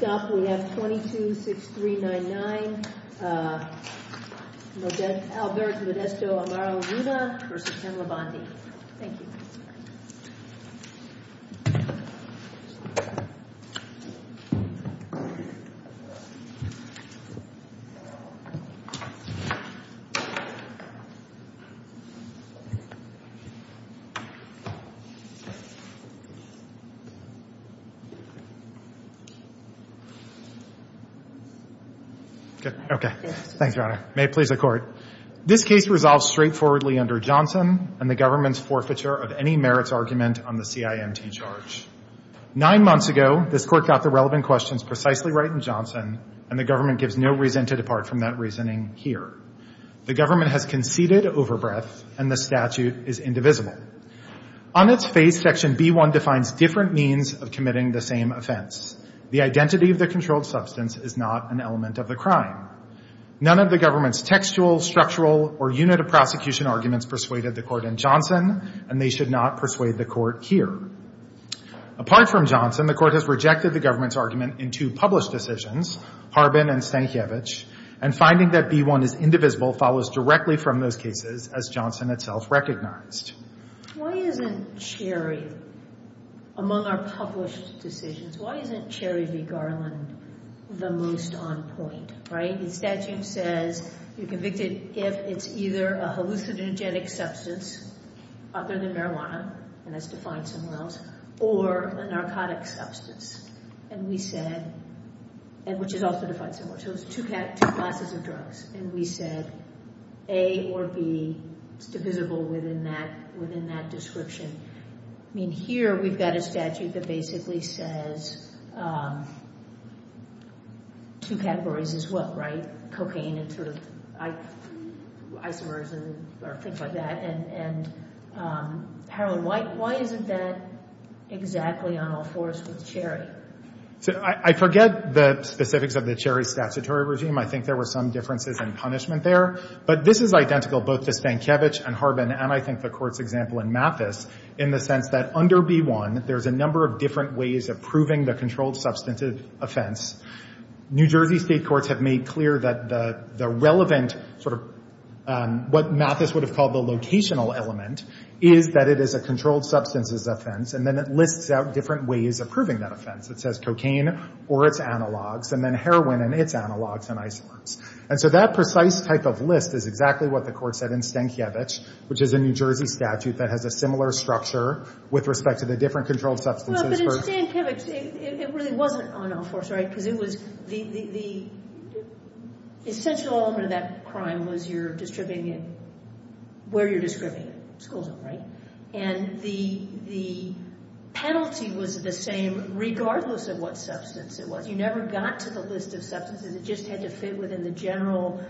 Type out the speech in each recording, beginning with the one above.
Next up we have 226399 Albert Modesto Amaro Luna v. M. Bondi This case resolves straightforwardly under Johnson and the government's forfeiture of any merits argument on the CIMT charge. Nine months ago, this Court got the relevant questions precisely right in Johnson, and the government gives no reason to depart from that reasoning here. The government has conceded overbreadth, and the statute is indivisible. On its face, Section B-1 defines different means of committing the same offense. The identity of the controlled substance is not an element of the crime. None of the government's textual, structural, or unit of prosecution arguments persuaded the Court in Johnson, and they should not persuade the Court here. Apart from Johnson, the Court has rejected the government's argument in two published decisions, Harbin and Stankiewicz, and finding that B-1 is indivisible follows directly from those cases, as Johnson itself recognized. Why isn't Cherry, among our published decisions, why isn't Cherry v. Garland the most on point, right? The statute says you're convicted if it's either a hallucinogenic substance other than marijuana, and that's defined somewhere else, or a narcotic substance, and we said, and which is also defined somewhere, so it's two classes of drugs, and we said A or B is divisible within that description. I mean, here we've got a statute that basically says two categories as well, right? cocaine and sort of isomers and things like that, and heroin. Why isn't that exactly on all fours with Cherry? I forget the specifics of the Cherry statutory regime. I think there were some differences in punishment there, but this is identical, both to Stankiewicz and Harbin, and I think the Court's example in Mathis, in the sense that under B-1, there's a number of different ways of proving the controlled substantive offense. New Jersey state courts have made clear that the relevant sort of what Mathis would have called the locational element is that it is a controlled substances offense, and then it lists out different ways of proving that offense. It says cocaine or its analogs, and then heroin and its analogs and isomers, and so that precise type of list is exactly what the Court said in Stankiewicz, which is a New Jersey statute that has a similar structure with respect to the different controlled substances. But in Stankiewicz, it really wasn't on all fours, right? Because it was the essential element of that crime was you're distributing it where you're distributing it, school zone, right? And the penalty was the same regardless of what substance it was. You never got to the list of substances. It just had to fit within the general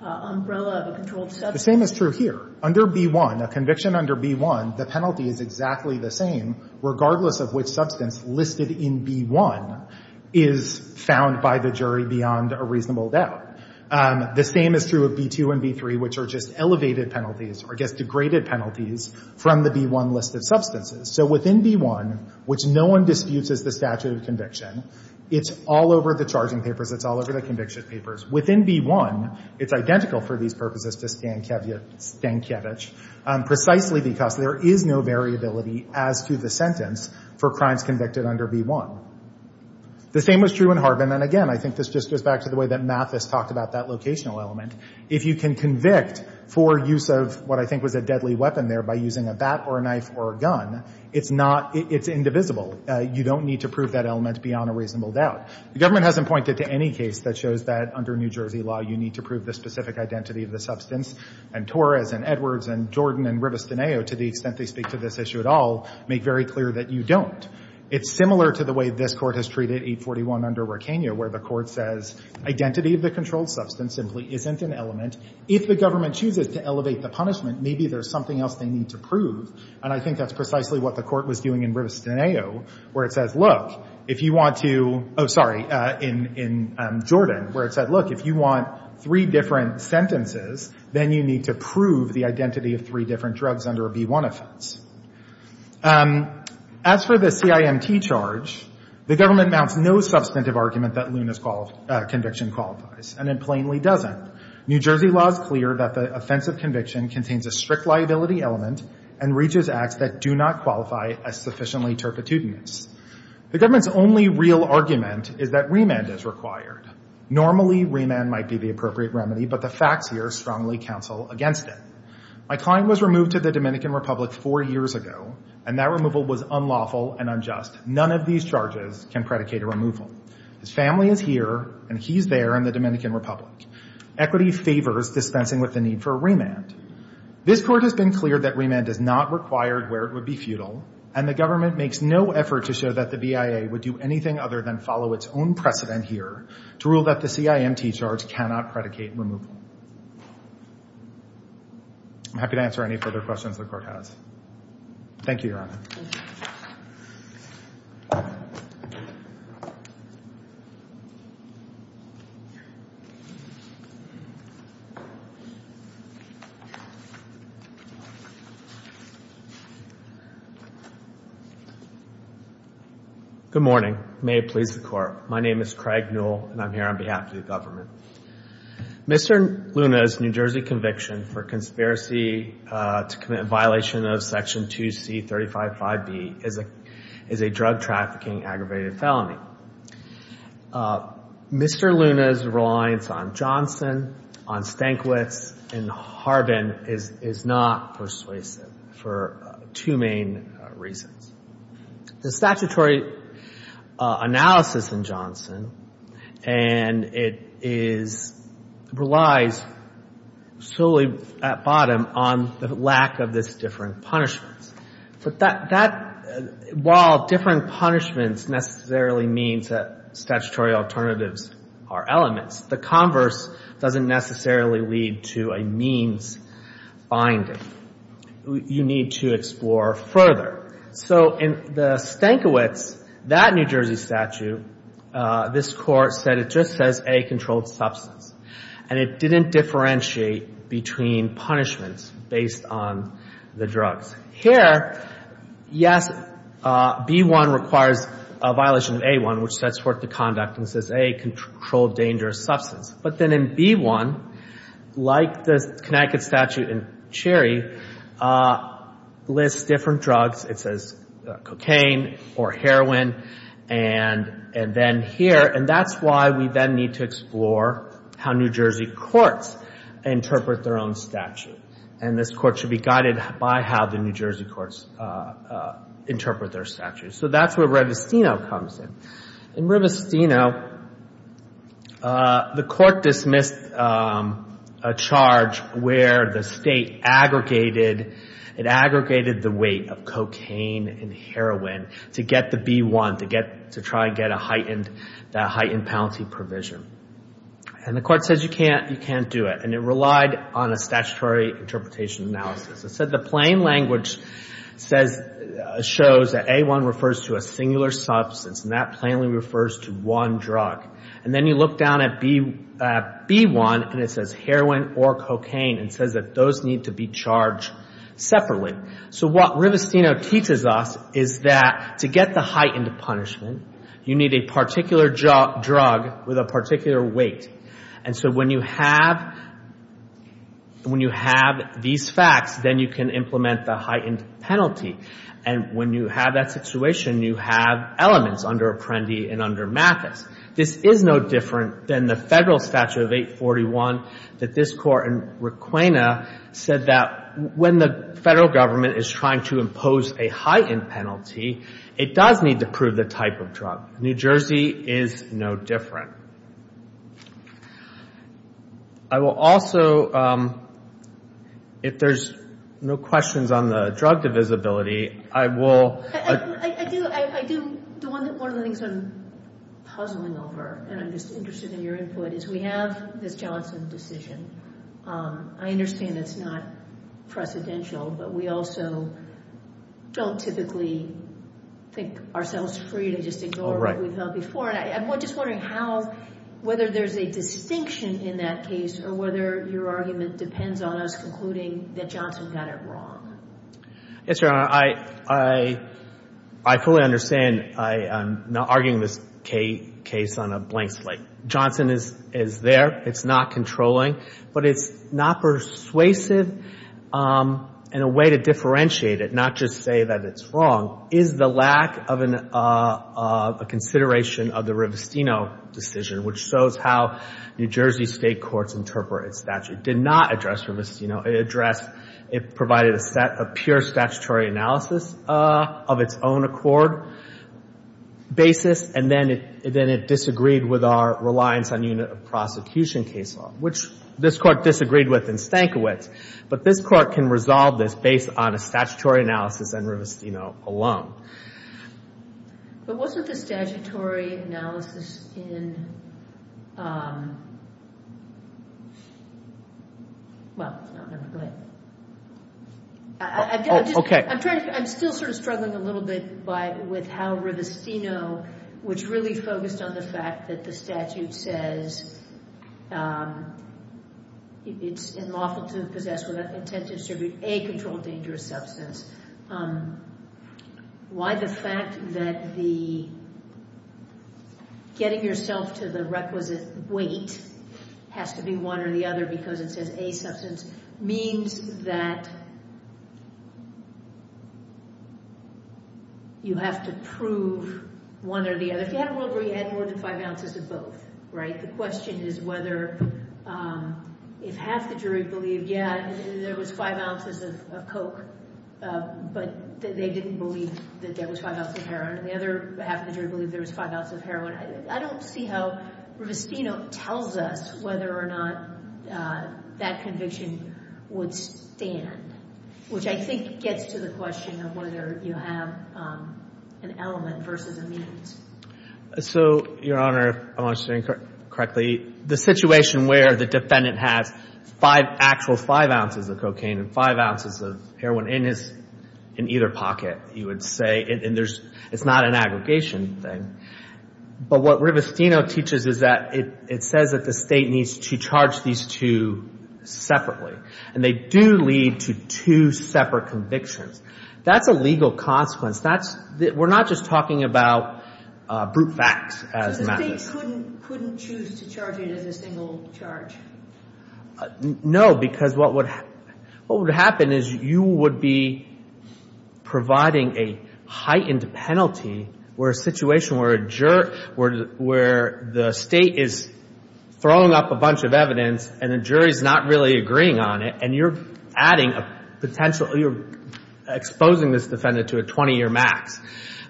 umbrella of a controlled substance. The same is true here. Under B-1, a conviction under B-1, the penalty is exactly the same regardless of which substance listed in B-1 is found by the jury beyond a reasonable doubt. The same is true of B-2 and B-3, which are just elevated penalties or just degraded penalties from the B-1 list of substances. So within B-1, which no one disputes as the statute of conviction, it's all over the charging papers, it's all over the conviction papers. Within B-1, it's identical for these purposes to Stankiewicz precisely because there is no variability as to the sentence for crimes convicted under B-1. The same was true in Harbin. And again, I think this just goes back to the way that Mathis talked about that locational element. If you can convict for use of what I think was a deadly weapon there by using a bat or a knife or a gun, it's not – it's indivisible. You don't need to prove that element beyond a reasonable doubt. The government hasn't pointed to any case that shows that under New Jersey law, you need to prove the specific identity of the substance. And Torres and Edwards and Jordan and Rivestineo, to the extent they speak to this issue at all, make very clear that you don't. It's similar to the way this Court has treated 841 under Requeno, where the Court says identity of the controlled substance simply isn't an element. If the government chooses to elevate the punishment, maybe there's something else they need to prove. And I think that's precisely what the Court was doing in Rivestineo, where it says, look, if you want to – oh, sorry, in Jordan, where it said, look, if you want three different sentences, then you need to prove the identity of three different drugs under a B-1 offense. As for the CIMT charge, the government mounts no substantive argument that Luna's conviction qualifies, and it plainly doesn't. New Jersey law is clear that the offensive conviction contains a strict liability element and reaches acts that do not qualify as sufficiently turpitudinous. The government's only real argument is that remand is required. Normally, remand might be the appropriate remedy, but the facts here strongly counsel against it. My client was removed to the Dominican Republic four years ago, and that removal was unlawful and unjust. None of these charges can predicate a removal. His family is here, and he's there in the Dominican Republic. Equity favors dispensing with the need for a remand. This Court has been clear that remand is not required where it would be futile, and the government makes no effort to show that the BIA would do anything other than follow its own precedent here to rule that the CIMT charge cannot predicate removal. I'm happy to answer any further questions the Court has. Thank you, Your Honor. Thank you. Good morning. May it please the Court. My name is Craig Newell, and I'm here on behalf of the government. Mr. Luna's New Jersey conviction for conspiracy to commit a violation of Section 2C355B is a drug trafficking aggravated felony. Mr. Luna's reliance on Johnson, on Stankiewicz, and Harbin is not persuasive for two main reasons. The statutory analysis in Johnson, and it is, relies solely at bottom on the lack of this differing punishments. But that, while differing punishments necessarily means that statutory alternatives are elements, the converse doesn't necessarily lead to a means finding. You need to explore further. So in the Stankiewicz, that New Jersey statute, this Court said it just says, A, controlled substance. And it didn't differentiate between punishments based on the drugs. Here, yes, B-1 requires a violation of A-1, which sets forth the conduct and says, A, controlled dangerous substance. But then in B-1, like the Connecticut statute in Cherry, lists different drugs. It says cocaine or heroin, and then here, and that's why we then need to explore how New Jersey courts interpret their own statute. And this Court should be guided by how the New Jersey courts interpret their statute. So that's where Rivestino comes in. In Rivestino, the Court dismissed a charge where the State aggregated, it aggregated the weight of cocaine and heroin to get the B-1, to get, to try and get a heightened, that heightened penalty provision. And the Court says you can't, you can't do it. And it relied on a statutory interpretation analysis. It said the plain language says, shows that A-1 refers to a singular substance, and that plainly refers to one drug. And then you look down at B-1, and it says heroin or cocaine, and it says that those need to be charged separately. So what Rivestino teaches us is that to get the heightened punishment, you need a particular drug with a particular weight. And so when you have, when you have these facts, then you can implement the heightened penalty. And when you have that situation, you have elements under Apprendi and under Mathis. This is no different than the Federal Statute of 841 that this Court in Requena said that when the Federal Government is trying to impose a heightened penalty, it does need to prove the type of drug. New Jersey is no different. I will also, if there's no questions on the drug divisibility, I will... I do, I do. One of the things I'm puzzling over, and I'm just interested in your input, is we have this Johnson decision. I understand it's not precedential, but we also don't typically think ourselves free to just ignore what we've heard before. And I'm just wondering how, whether there's a distinction in that case or whether your argument depends on us concluding that Johnson got it wrong. Yes, Your Honor. I fully understand. I'm not arguing this case on a blank slate. Johnson is there. It's not controlling. But it's not persuasive in a way to differentiate it, not just say that it's wrong. It's the lack of a consideration of the Rivestino decision, which shows how New Jersey State courts interpret its statute. It did not address Rivestino. It addressed, it provided a set of pure statutory analysis of its own accord basis, and then it disagreed with our reliance on unit of prosecution case law, which this Court disagreed with in Stankiewicz. But this Court can resolve this based on a statutory analysis and Rivestino alone. But wasn't the statutory analysis in, well, no, never mind. I'm still sort of struggling a little bit with how Rivestino, which really focused on the fact that the statute says it's unlawful to possess with intent to distribute a controlled dangerous substance. Why the fact that the getting yourself to the requisite weight has to be one or the other because it says a substance, means that you have to prove one or the other. If you had a world where you had more than five ounces of both, right, the question is whether if half the jury believed, yeah, there was five ounces of coke, but they didn't believe that there was five ounces of heroin, and the other half of the jury believed there was five ounces of heroin. I don't see how Rivestino tells us whether or not that conviction would stand, which I think gets to the question of whether you have an element versus a means. So, Your Honor, if I'm understanding correctly, the situation where the defendant has five, actual five ounces of cocaine and five ounces of heroin in his, in either pocket, you would say, and there's, it's not an aggregation thing. But what Rivestino teaches is that it says that the state needs to charge these two separately. And they do lead to two separate convictions. That's a legal consequence. That's, we're not just talking about brute facts as matters. So the state couldn't choose to charge it as a single charge? No, because what would happen is you would be providing a heightened penalty where a situation where a juror, where the state is throwing up a bunch of evidence and the jury's not really agreeing on it, and you're adding a potential, you're exposing this defendant to a 20-year max.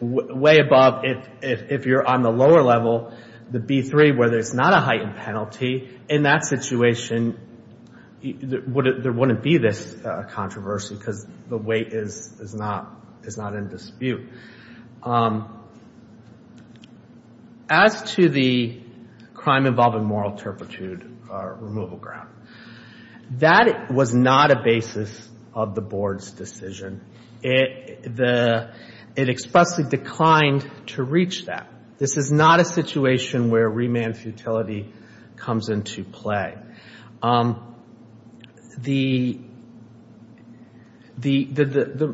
Way above, if you're on the lower level, the B-3, where there's not a heightened penalty, in that situation, there wouldn't be this controversy because the weight is not in dispute. As to the crime involving moral turpitude removal ground, that was not a basis of the Board's decision. It expressly declined to reach that. This is not a situation where remand futility comes into play. The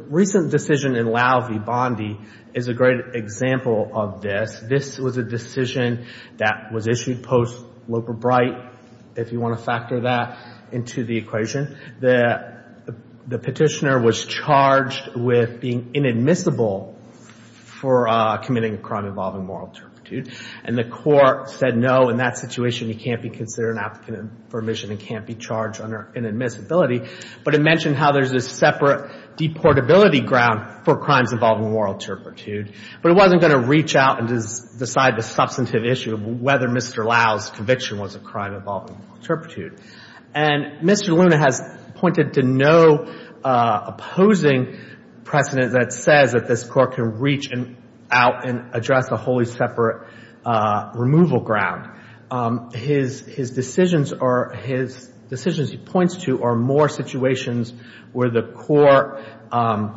recent decision in Lau v. Bondi is a great example of this. This was a decision that was issued post-Loper-Bright, if you want to factor that into the equation. The petitioner was charged with being inadmissible for committing a crime involving moral turpitude. And the court said, no, in that situation, you can't be considered an applicant for remission and can't be charged under inadmissibility. But it mentioned how there's a separate deportability ground for crimes involving moral turpitude. But it wasn't going to reach out and decide the substantive issue of whether Mr. Lau's conviction was a crime involving moral turpitude. And Mr. Luna has pointed to no opposing precedent that says that this court can reach out and address a wholly separate removal ground. His decisions or his decisions he points to are more situations where the court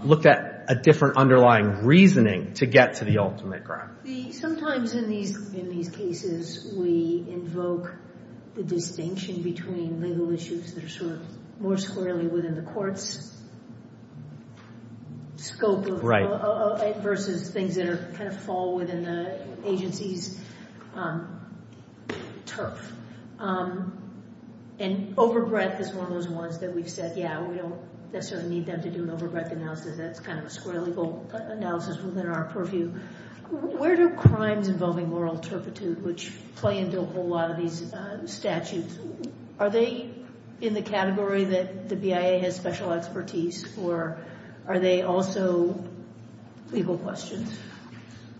looked at a different underlying reasoning to get to the ultimate ground. Sometimes in these cases, we invoke the distinction between legal issues that are sort of more squarely within the court's scope versus things that kind of fall within the agency's turf. And overbreadth is one of those ones that we've said, yeah, we don't necessarily need them to do an overbreadth analysis. That's kind of a square legal analysis within our purview. Where do crimes involving moral turpitude, which play into a whole lot of these statutes, are they in the category that the BIA has special expertise for? Are they also legal questions?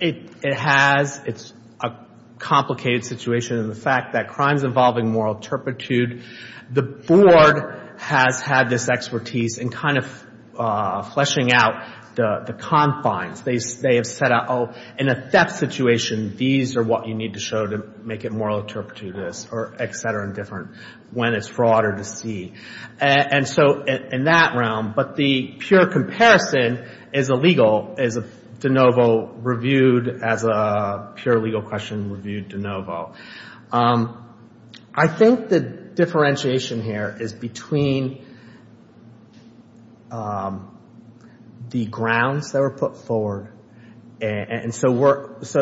It has. It's a complicated situation. And the fact that crimes involving moral turpitude, the board has had this expertise in kind of fleshing out the confines. They have set out, oh, in a theft situation, these are what you need to show to make it moral turpitude or et cetera and different when it's fraud or deceit. And so in that realm, but the pure comparison is a legal, is a de novo reviewed as a pure legal question reviewed de novo. I think the differentiation here is between the grounds that were put forward. And so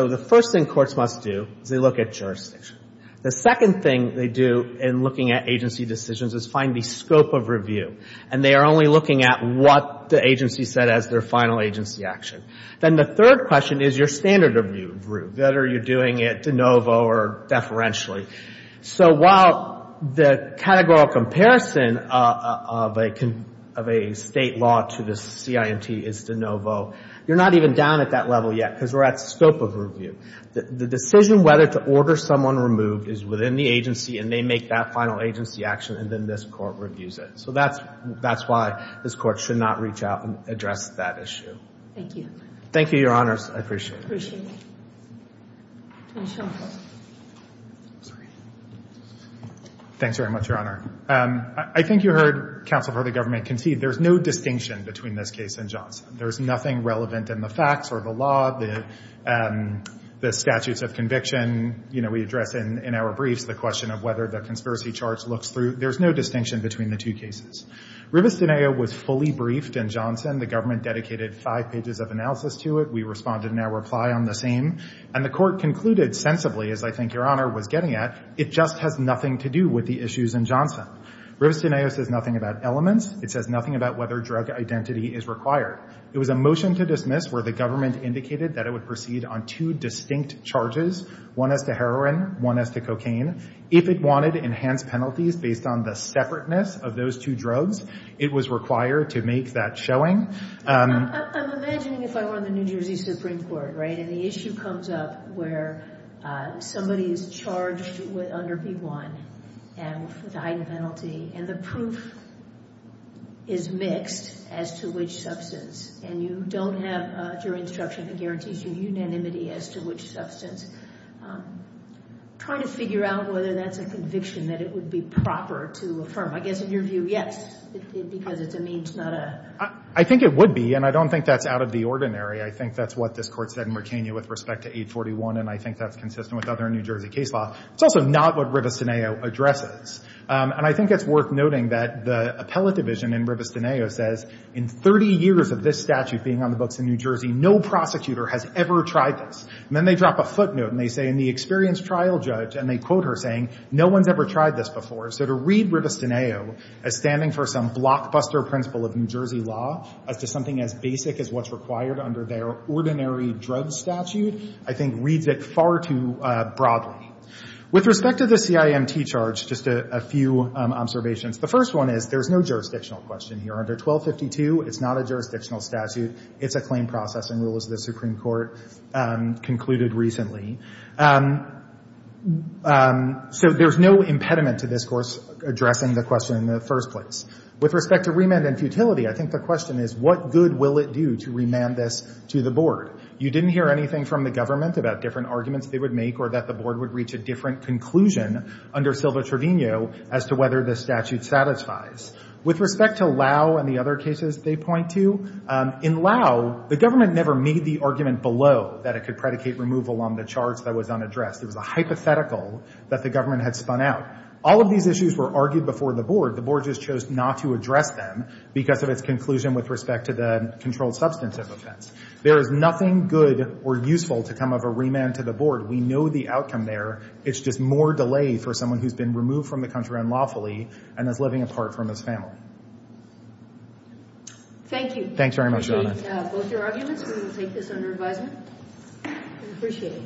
the first thing courts must do is they look at jurisdiction. The second thing they do in looking at agency decisions is find the scope of review. And they are only looking at what the agency said as their final agency action. Then the third question is your standard of review. Whether you're doing it de novo or deferentially. So while the categorical comparison of a state law to the CIMT is de novo, you're not even down at that level yet because we're at scope of review. The decision whether to order someone removed is within the agency and they make that final agency action and then this Court reviews it. So that's why this Court should not reach out and address that issue. Thank you. Thank you, Your Honors. I appreciate it. Appreciate it. Mr. O'Connell. I'm sorry. Thanks very much, Your Honor. I think you heard counsel for the government concede there's no distinction between this case and Johnson. There's nothing relevant in the facts or the law, the statutes of conviction. You know, we address in our briefs the question of whether the conspiracy charge looks through. There's no distinction between the two cases. Rivestineo was fully briefed in Johnson. The government dedicated five pages of analysis to it. We responded in our reply on the same. And the Court concluded sensibly, as I think Your Honor was getting at, it just has nothing to do with the issues in Johnson. Rivestineo says nothing about elements. It says nothing about whether drug identity is required. It was a motion to dismiss where the government indicated that it would proceed on two distinct charges, one as to heroin, one as to cocaine. If it wanted enhanced penalties based on the separateness of those two drugs, it was required to make that showing. I'm imagining if I were in the New Jersey Supreme Court, right, and the issue comes up where somebody is charged under B-1 with a heightened penalty and the proof is mixed as to which substance, and you don't have jury instruction that guarantees you unanimity as to which substance, trying to figure out whether that's a conviction that it would be proper to affirm. I guess in your view, yes, because it's a means, not a— I think it would be, and I don't think that's out of the ordinary. I think that's what this Court said in McKinney with respect to 841, and I think that's consistent with other New Jersey case law. It's also not what Rivestineo addresses. And I think it's worth noting that the appellate division in Rivestineo says in 30 years of this statute being on the books in New Jersey, no prosecutor has ever tried this. And then they drop a footnote, and they say in the experienced trial judge, and they quote her saying, no one's ever tried this before. So to read Rivestineo as standing for some blockbuster principle of New Jersey law as to something as basic as what's required under their ordinary drug statute, I think reads it far too broadly. With respect to the CIMT charge, just a few observations. The first one is there's no jurisdictional question here. Under 1252, it's not a jurisdictional statute. It's a claim processing rule as the Supreme Court concluded recently. So there's no impediment to this Court addressing the question in the first place. With respect to remand and futility, I think the question is, what good will it do to remand this to the board? You didn't hear anything from the government about different arguments they would make or that the board would reach a different conclusion under Silva-Trevino as to whether the statute satisfies. With respect to Lau and the other cases they point to, in Lau, the government never made the argument below that it could predicate removal on the charge that was unaddressed. It was a hypothetical that the government had spun out. All of these issues were argued before the board. The board just chose not to address them because of its conclusion with respect to the controlled substantive offense. There is nothing good or useful to come of a remand to the board. We know the outcome there. It's just more delay for someone who's been removed from the country unlawfully and is living apart from his family. Thank you. Thanks very much, Your Honor. We appreciate both your arguments. We will take this under advisement. We appreciate it.